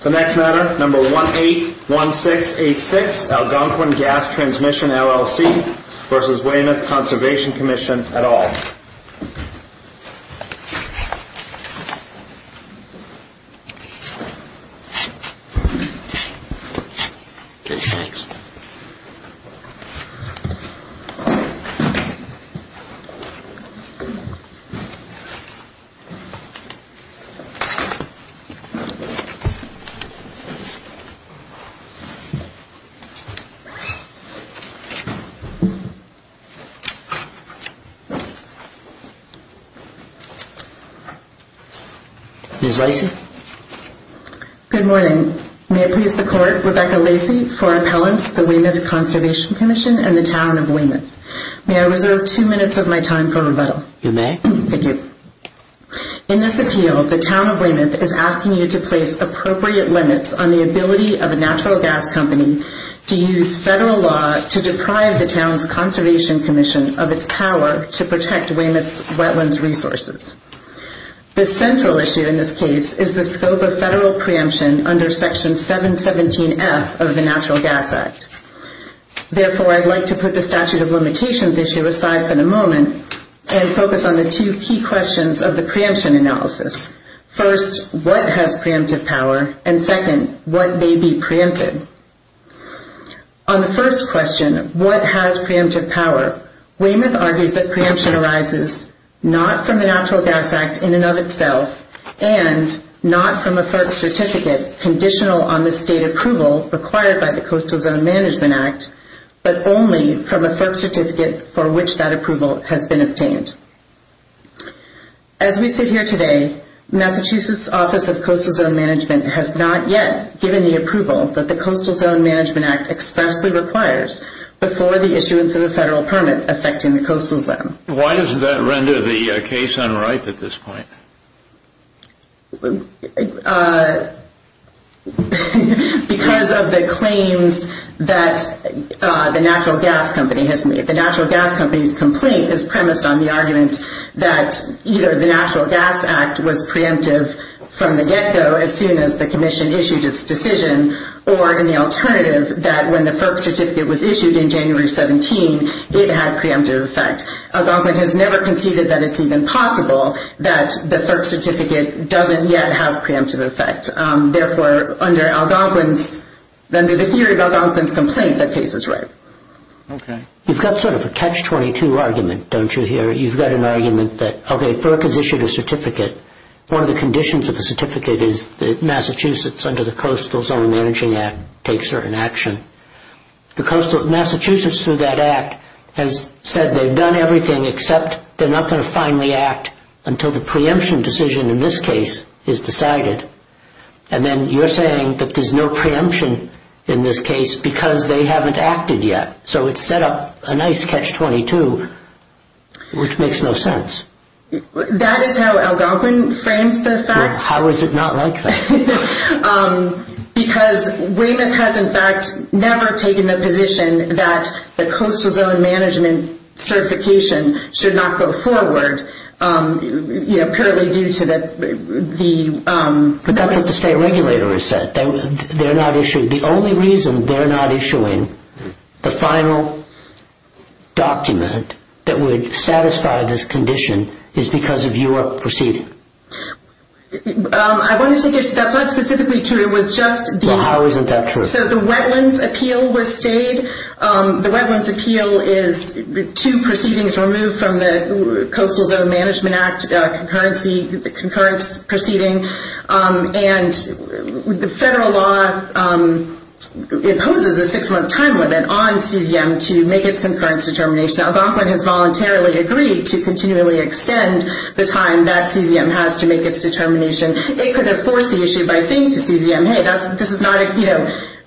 The next matter, number 181686, Algonquin Gas Transmission LLC v. Weymouth Conservation Commission at all. In this appeal, the Town of Weymouth is asking you to place appropriate limits on the ability of a natural gas company to use Federal law to deprive the Town's Conservation Commission of its power to protect Weymouth's wetlands resources. The central issue in this case is the scope of Federal preemption under Section 717F of the Natural Gas Act. Therefore, I'd like to put the statute of limitations issue aside for the moment and focus on the two key questions of the preemption analysis. First, what has preemptive power? And second, what may be preempted? On the first question, what has preemptive power, Weymouth argues that preemption arises not from the Natural Gas Act in and of itself and not from a FERC certificate conditional on the State approval required by the Coastal Zone Management Act, but only from a FERC certificate for which that approval has been obtained. As we sit here today, Massachusetts Office of Coastal Zone Management has not yet given the approval that the Coastal Zone Management Act expressly requires before the issuance of a Federal permit affecting the Coastal Zone. Why does that render the case unright at this point? Because of the claims that the Natural Gas Company has made. The Natural Gas Company's that either the Natural Gas Act was preemptive from the get-go as soon as the Commission issued its decision, or in the alternative, that when the FERC certificate was issued in January 17, it had preemptive effect. Algonquin has never conceded that it's even possible that the FERC certificate doesn't yet have preemptive effect. Therefore, under Algonquin's complaint, that case is right. You've got sort of a catch-22 argument, don't you, here? You've got an argument that, okay, FERC has issued a certificate. One of the conditions of the certificate is that Massachusetts under the Coastal Zone Managing Act takes certain action. Massachusetts, through that act, has said they've done everything except they're not going to finally act until the preemption decision in this case is decided. And then you're saying that there's no action in this case because they haven't acted yet. So it's set up a nice catch-22, which makes no sense. That is how Algonquin frames the fact. How is it not like that? Because Weymouth has, in fact, never taken the position that the Coastal Zone Management certification should not go forward, you know, purely due to the... But that's what the state regulator has said. They're not issuing... The only reason they're not issuing the final document that would satisfy this condition is because of your proceeding. I wanted to get... That's not specifically true. It was just the... Well, how isn't that true? So the Wetlands Appeal was stayed. The Wetlands Appeal is two proceedings removed from the federal law. It poses a six-month time limit on CZM to make its concurrence determination. Algonquin has voluntarily agreed to continually extend the time that CZM has to make its determination. It could have forced the issue by saying to CZM, hey, this is not...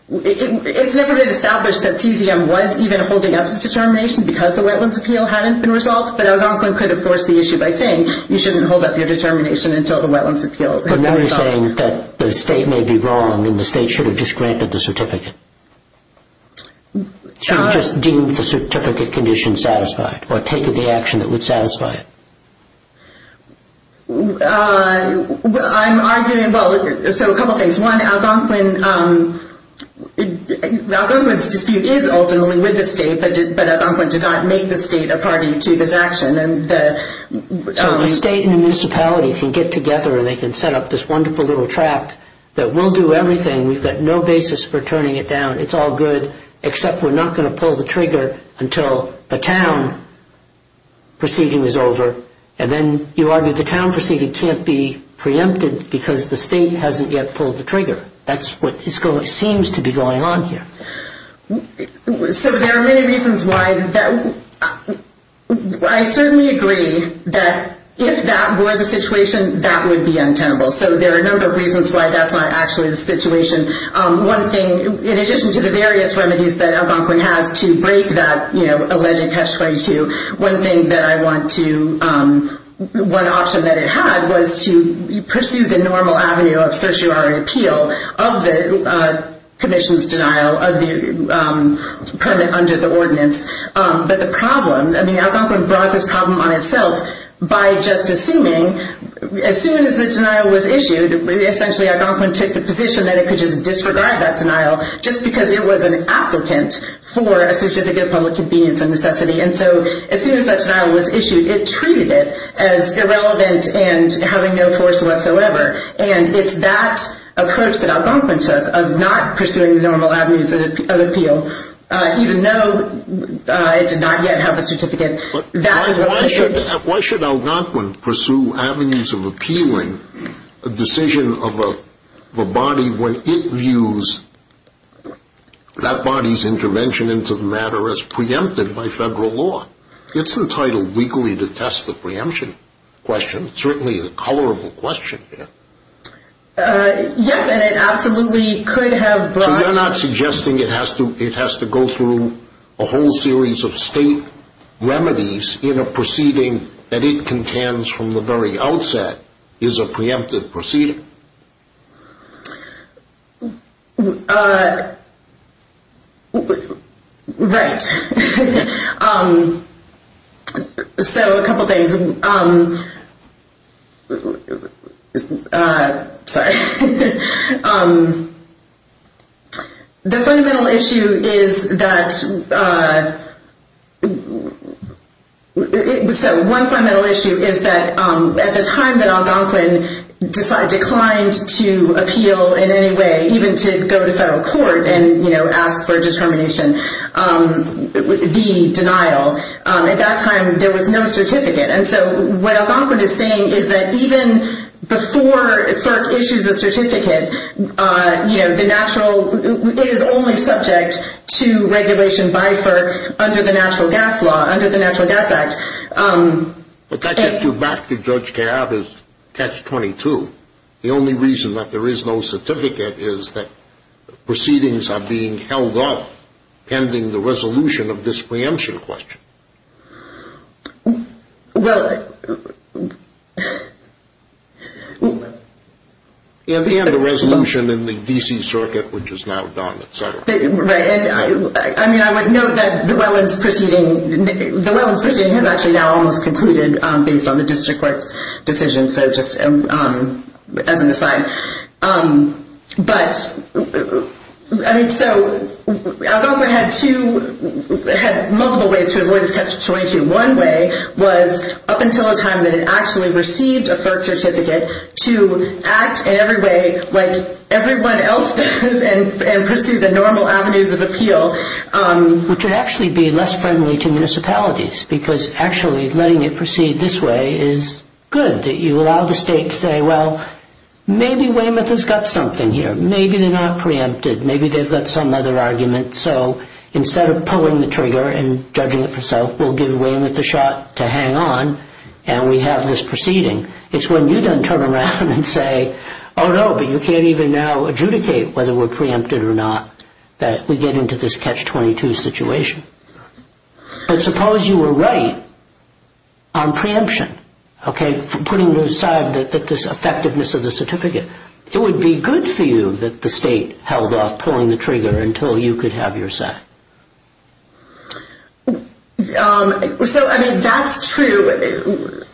It's never been established that CZM was even holding up its determination because the Wetlands Appeal hadn't been resolved. But Algonquin could have forced the issue by saying, you shouldn't hold up your determination until the Wetlands Appeal has been resolved. So you're saying that the state may be wrong and the state should have just granted the certificate? Should have just deemed the certificate condition satisfied or taken the action that would satisfy it? I'm arguing... Well, so a couple things. One, Algonquin... Algonquin's dispute is ultimately with the state, but Algonquin did not make the state a party to this action. So a state and a municipality can get together and they can set up this wonderful little trap that we'll do everything. We've got no basis for turning it down. It's all good, except we're not going to pull the trigger until the town proceeding is over. And then you argue the town proceeding can't be preempted because the state hasn't yet pulled the trigger. That's what seems to be going on here. So there are many reasons why that... I certainly agree that if that were the situation, that would be untenable. So there are a number of reasons why that's not actually the situation. One thing, in addition to the various remedies that Algonquin has to break that alleged catch-22, one thing that I want to... One option that it had was to pursue the normal avenue of the permit under the ordinance. But the problem... I mean, Algonquin brought this problem on itself by just assuming... As soon as the denial was issued, essentially Algonquin took the position that it could just disregard that denial just because it was an applicant for a certificate of public convenience and necessity. And so as soon as that denial was issued, it treated it as irrelevant and having no force whatsoever. And it's that approach that Algonquin took of not pursuing the normal avenues of appeal, even though it did not yet have a certificate. That is what... Why should Algonquin pursue avenues of appealing a decision of a body when it views that body's intervention into the matter as preempted by federal law? It's entitled legally to test the preemption question. It's certainly a colorable question here. Yes, and it absolutely could have brought... So you're not suggesting it has to go through a whole series of state remedies in a proceeding that it contends from the very outset is a preemptive proceeding? Right. So a couple things. Sorry. The fundamental issue is that... So one fundamental issue is that at the time that Algonquin declined to appeal in any way, even to go to federal court and ask for a determination, the denial, at that time there was no certificate. And so what Algonquin is saying is that even before FERC issues a certificate, the natural... It is only subject to regulation by FERC under the Natural Gas Act. But that gets you back to Judge Cabot's catch-22. The only reason that there is no certificate is that proceedings are being held up pending the resolution of this preemption question. Well... And the resolution in the D.C. Circuit, which is now done, et cetera. Right. And I would note that the Welland's proceeding has actually now almost concluded based on the District Court's decision, so just as an aside. But, I mean, so Algonquin had multiple ways to avoid this catch-22. One way was up until the time that it actually received a FERC certificate to act in every way like this, to pursue the normal avenues of appeal, which would actually be less friendly to municipalities, because actually letting it proceed this way is good, that you allow the state to say, well, maybe Weymouth has got something here. Maybe they're not preempted. Maybe they've got some other argument. So instead of pulling the trigger and judging it for self, we'll give Weymouth a shot to hang on, and we have this proceeding. It's when you then turn around and say, oh, no, but you can't even now adjudicate whether we're preempted or not, that we get into this catch-22 situation. But suppose you were right on preemption, okay, putting aside this effectiveness of the certificate. It would be good for you that the state held off pulling the trigger until you could have your shot. So, I mean, that's true.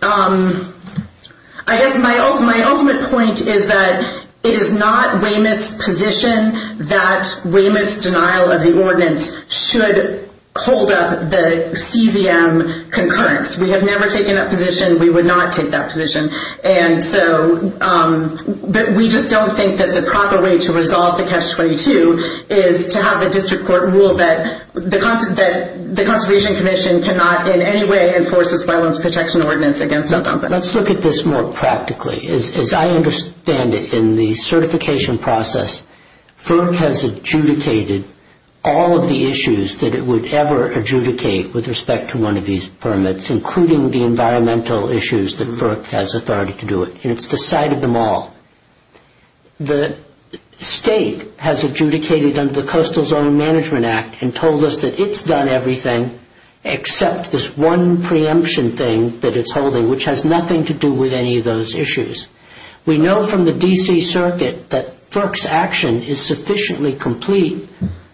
I guess my ultimate point is that it is not Weymouth's position that Weymouth's denial of the ordinance should hold up the CZM concurrence. We have never taken that position. We would not take that position. But we just don't think that the proper way to resolve the catch-22 is to have a district court rule that the ordinance against something. Let's look at this more practically. As I understand it, in the certification process, FERC has adjudicated all of the issues that it would ever adjudicate with respect to one of these permits, including the environmental issues that FERC has authority to do it. And it's decided them all. The state has adjudicated under the Coastal Zone Management Act and told us that it's done everything except this one preemption thing that it's holding, which has nothing to do with any of those issues. We know from the D.C. Circuit that FERC's action is sufficiently complete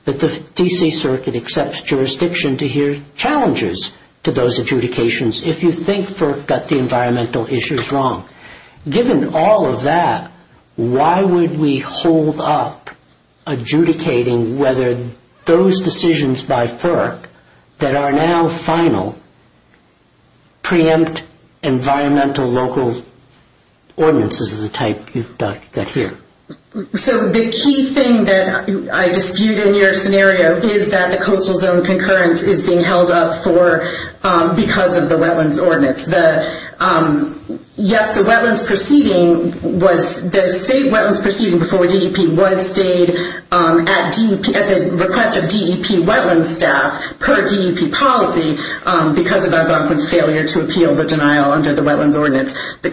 that the D.C. Circuit accepts jurisdiction to hear challenges to those adjudications if you think FERC got the environmental issues wrong. Given all of that, why would we hold up adjudicating whether those decisions by FERC that are now final preempt environmental local ordinances of the type you've got here? So the key thing that I dispute in your scenario is that the coastal zone concurrence is being held up because of the wetlands ordinance. Yes, the state wetlands proceeding before DEP was stayed at the request of DEP wetlands staff per DEP policy because of Algonquin's failure to appeal the denial under the wetlands ordinance. The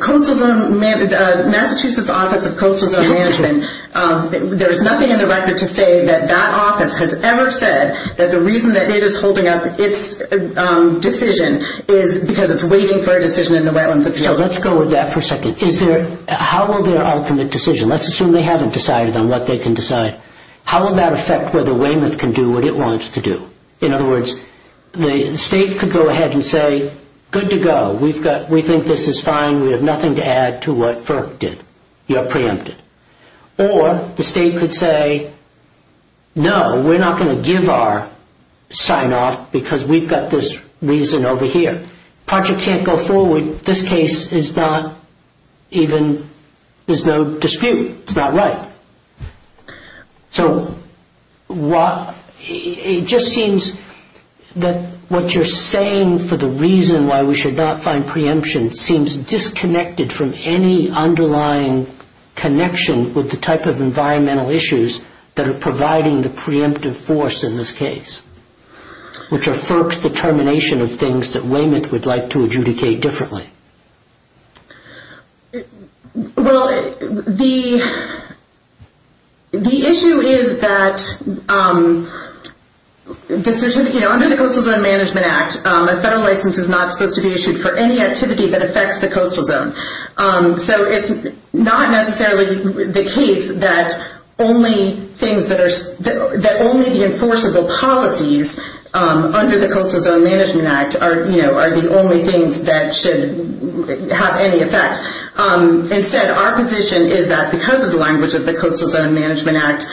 Massachusetts Office of Coastal Zone Management, there's nothing in the record to say that that office has ever said that the reason that it is holding up its decision is because it's waiting for a decision in the wetlands. So let's go with that for a second. How will their ultimate decision, let's assume they haven't decided on what they can decide, how will that affect whether Weymouth can do what it needs to do? The state could go ahead and say, good to go, we think this is fine, we have nothing to add to what FERC did, you're preempted. Or the state could say, no, we're not going to give our sign-off because we've got this reason over here. Project can't go forward, this case is not even, there's no dispute, it's not right. So it just seems that what you're saying for the reason why we should not find preemption seems disconnected from any underlying connection with the type of environmental issues that are providing the preemptive force in this case, which are FERC's determination of things that Weymouth would like to adjudicate differently. Well, the issue is that under the Coastal Zone Management Act, a federal license is not supposed to be issued for any activity that affects the coastal zone. So it's not necessarily the case that only the enforceable policies under the Coastal Zone Management Act are the only things that should have any effect. Instead, our position is that because of the language of the Coastal Zone Management Act,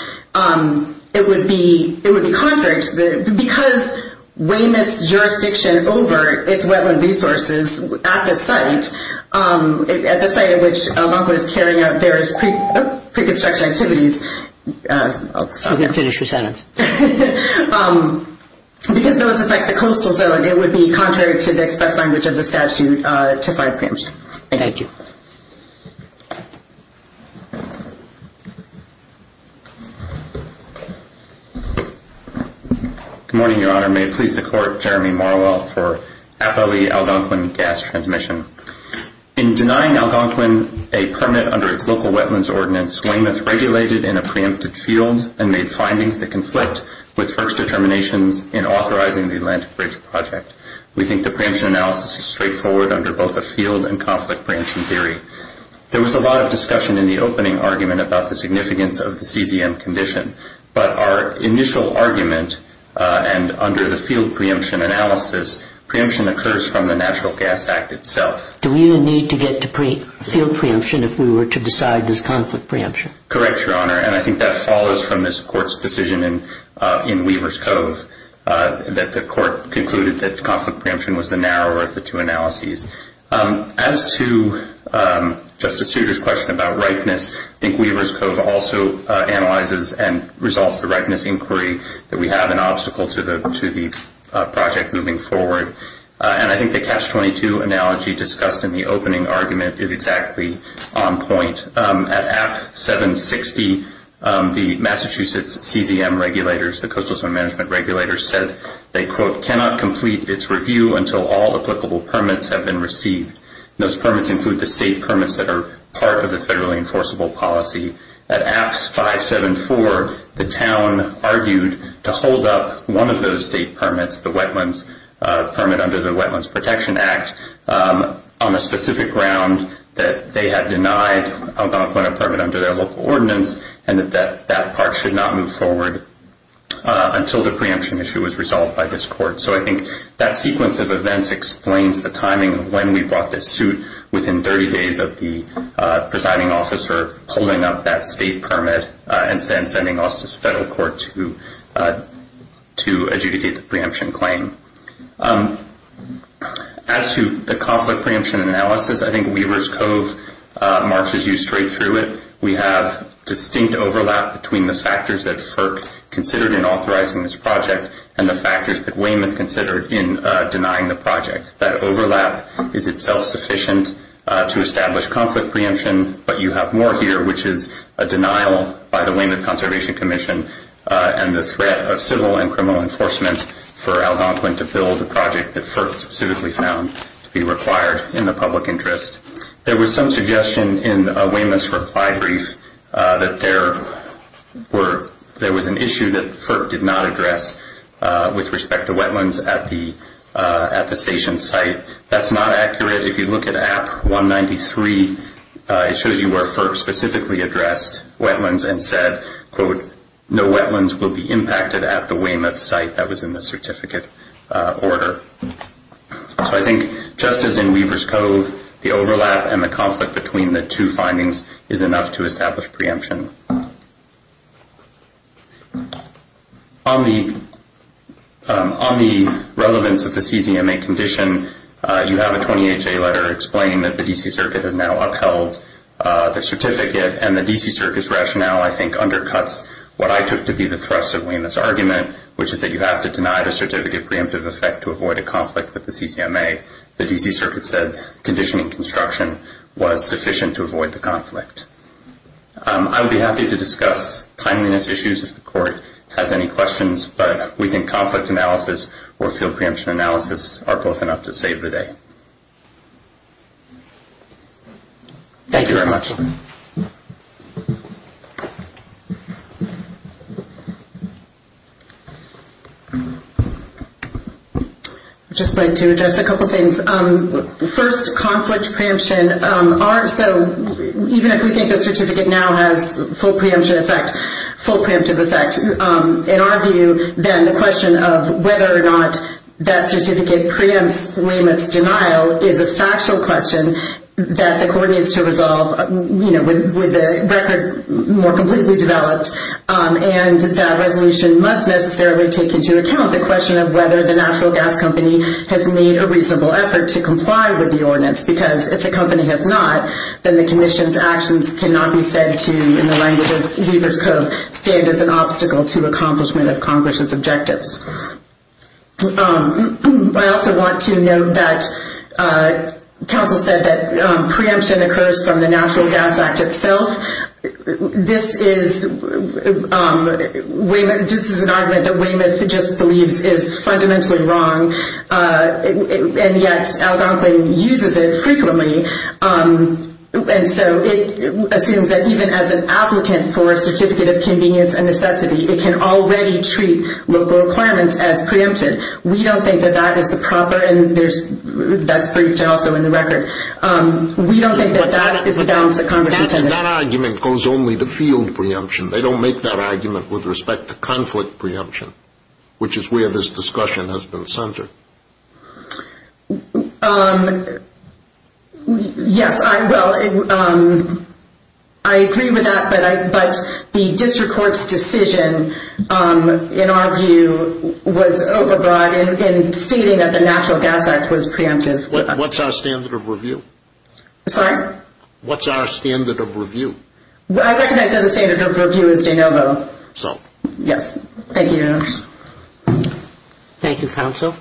it would be contrary to the, because Weymouth's jurisdiction over its wetland resources at the site, at the site at which Algonquin is carrying out various pre-construction activities, because those affect the coastal zone, it would be contrary to the express language of the statute to find preemption. Thank you. Good morning, Your Honor. May it please the Court, Jeremy Morrell for APOE Algonquin Gas Transmission. In denying Algonquin a permit under its local wetlands ordinance, Weymouth regulated in a preemptive process and made findings that conflict with first determinations in authorizing the Atlantic Bridge Project. We think the preemption analysis is straightforward under both a field and conflict preemption theory. There was a lot of discussion in the opening argument about the significance of the CZM condition, but our initial argument, and under the field preemption analysis, preemption occurs from the Natural Gas Act itself. Do we need to get to field preemption if we were to decide this conflict preemption? Correct, Your Honor, and I think that follows from this Court's decision in Weaver's Cove, that the Court concluded that conflict preemption was the narrower of the two analyses. As to Justice Souter's question about ripeness, I think Weaver's Cove also analyzes and resolves the ripeness inquiry that we have an obstacle to the project moving forward. And I think the Catch-22 analogy discussed in the opening argument is exactly on point. At APT 760, the Massachusetts CZM regulators, the Coastal Zone Management Regulators, said they quote, cannot complete its review until all applicable permits have been received. Those permits include the state permits that are part of the federally enforceable policy. At APT 574, the town argued to hold up one of those state permits, the Wetlands Permit under the Wetlands Protection Act, on a permanent permit under their local ordinance, and that that part should not move forward until the preemption issue is resolved by this Court. So I think that sequence of events explains the timing of when we brought this suit within 30 days of the presiding officer holding up that state permit and sending us to the federal court to adjudicate the preemption claim. As to the conflict preemption analysis, I think Weaver's Cove marches you straight through it. We have distinct overlap between the factors that FERC considered in authorizing this project and the factors that Weymouth considered in denying the project. That overlap is itself sufficient to establish conflict preemption, but you have more here, which is a denial by the Weymouth Commission. There was some suggestion in Weymouth's reply brief that there was an issue that FERC did not address with respect to wetlands at the station site. That's not accurate. If you look at Act 193, it shows you where FERC specifically addressed wetlands and said, quote, no wetlands will be impacted at the Weymouth site. That was in the certificate order. So I think just as in Weaver's Cove, the overlap and the conflict between the two findings is enough to establish preemption. On the relevance of the CCMA condition, you have a 28-J letter explaining that the D.C. Circuit has now upheld the certificate, and the D.C. Circuit's rationale I think undercuts what I took to be the thrust of Weymouth's argument, which is that you have to deny the certificate of preemptive effect to avoid a conflict with the CCMA. The D.C. Circuit said conditioning construction was sufficient to avoid the conflict. I would be happy to discuss timeliness issues if the court has any questions, but we think conflict analysis or field preemption analysis are both enough to save the day. Thank you very much. I would just like to address a couple things. First, conflict preemption. Even if we think the certificate now has full preemption effect, full preemptive effect, in our view, then the question of whether or not that certificate preempts Weymouth's denial is a factual question that the court needs to resolve. The resolution must necessarily take into account the question of whether the natural gas company has made a reasonable effort to comply with the ordinance, because if the company has not, then the commission's actions cannot be said to, in the language of Lever's Code, stand as an obstacle to accomplishment of Congress's objectives. I also want to note that counsel said that preemption occurs from the Natural Gas Act itself. This is an argument that Weymouth just believes is fundamentally wrong, and yet Algonquin uses it frequently, and so it assumes that even as an ordinance as preempted, we don't think that that is the proper, and that's briefed also in the record, we don't think that that is the balance that Congress intended. That argument goes only to field preemption. They don't make that argument with respect to conflict preemption, which is where this discussion has been centered. Yes, I will. I agree with that, but the district court's decision, in our view, was overbroad in stating that the Natural Gas Act was preemptive. What's our standard of review? I recognize that the standard of review is de novo. Thank you, counsel.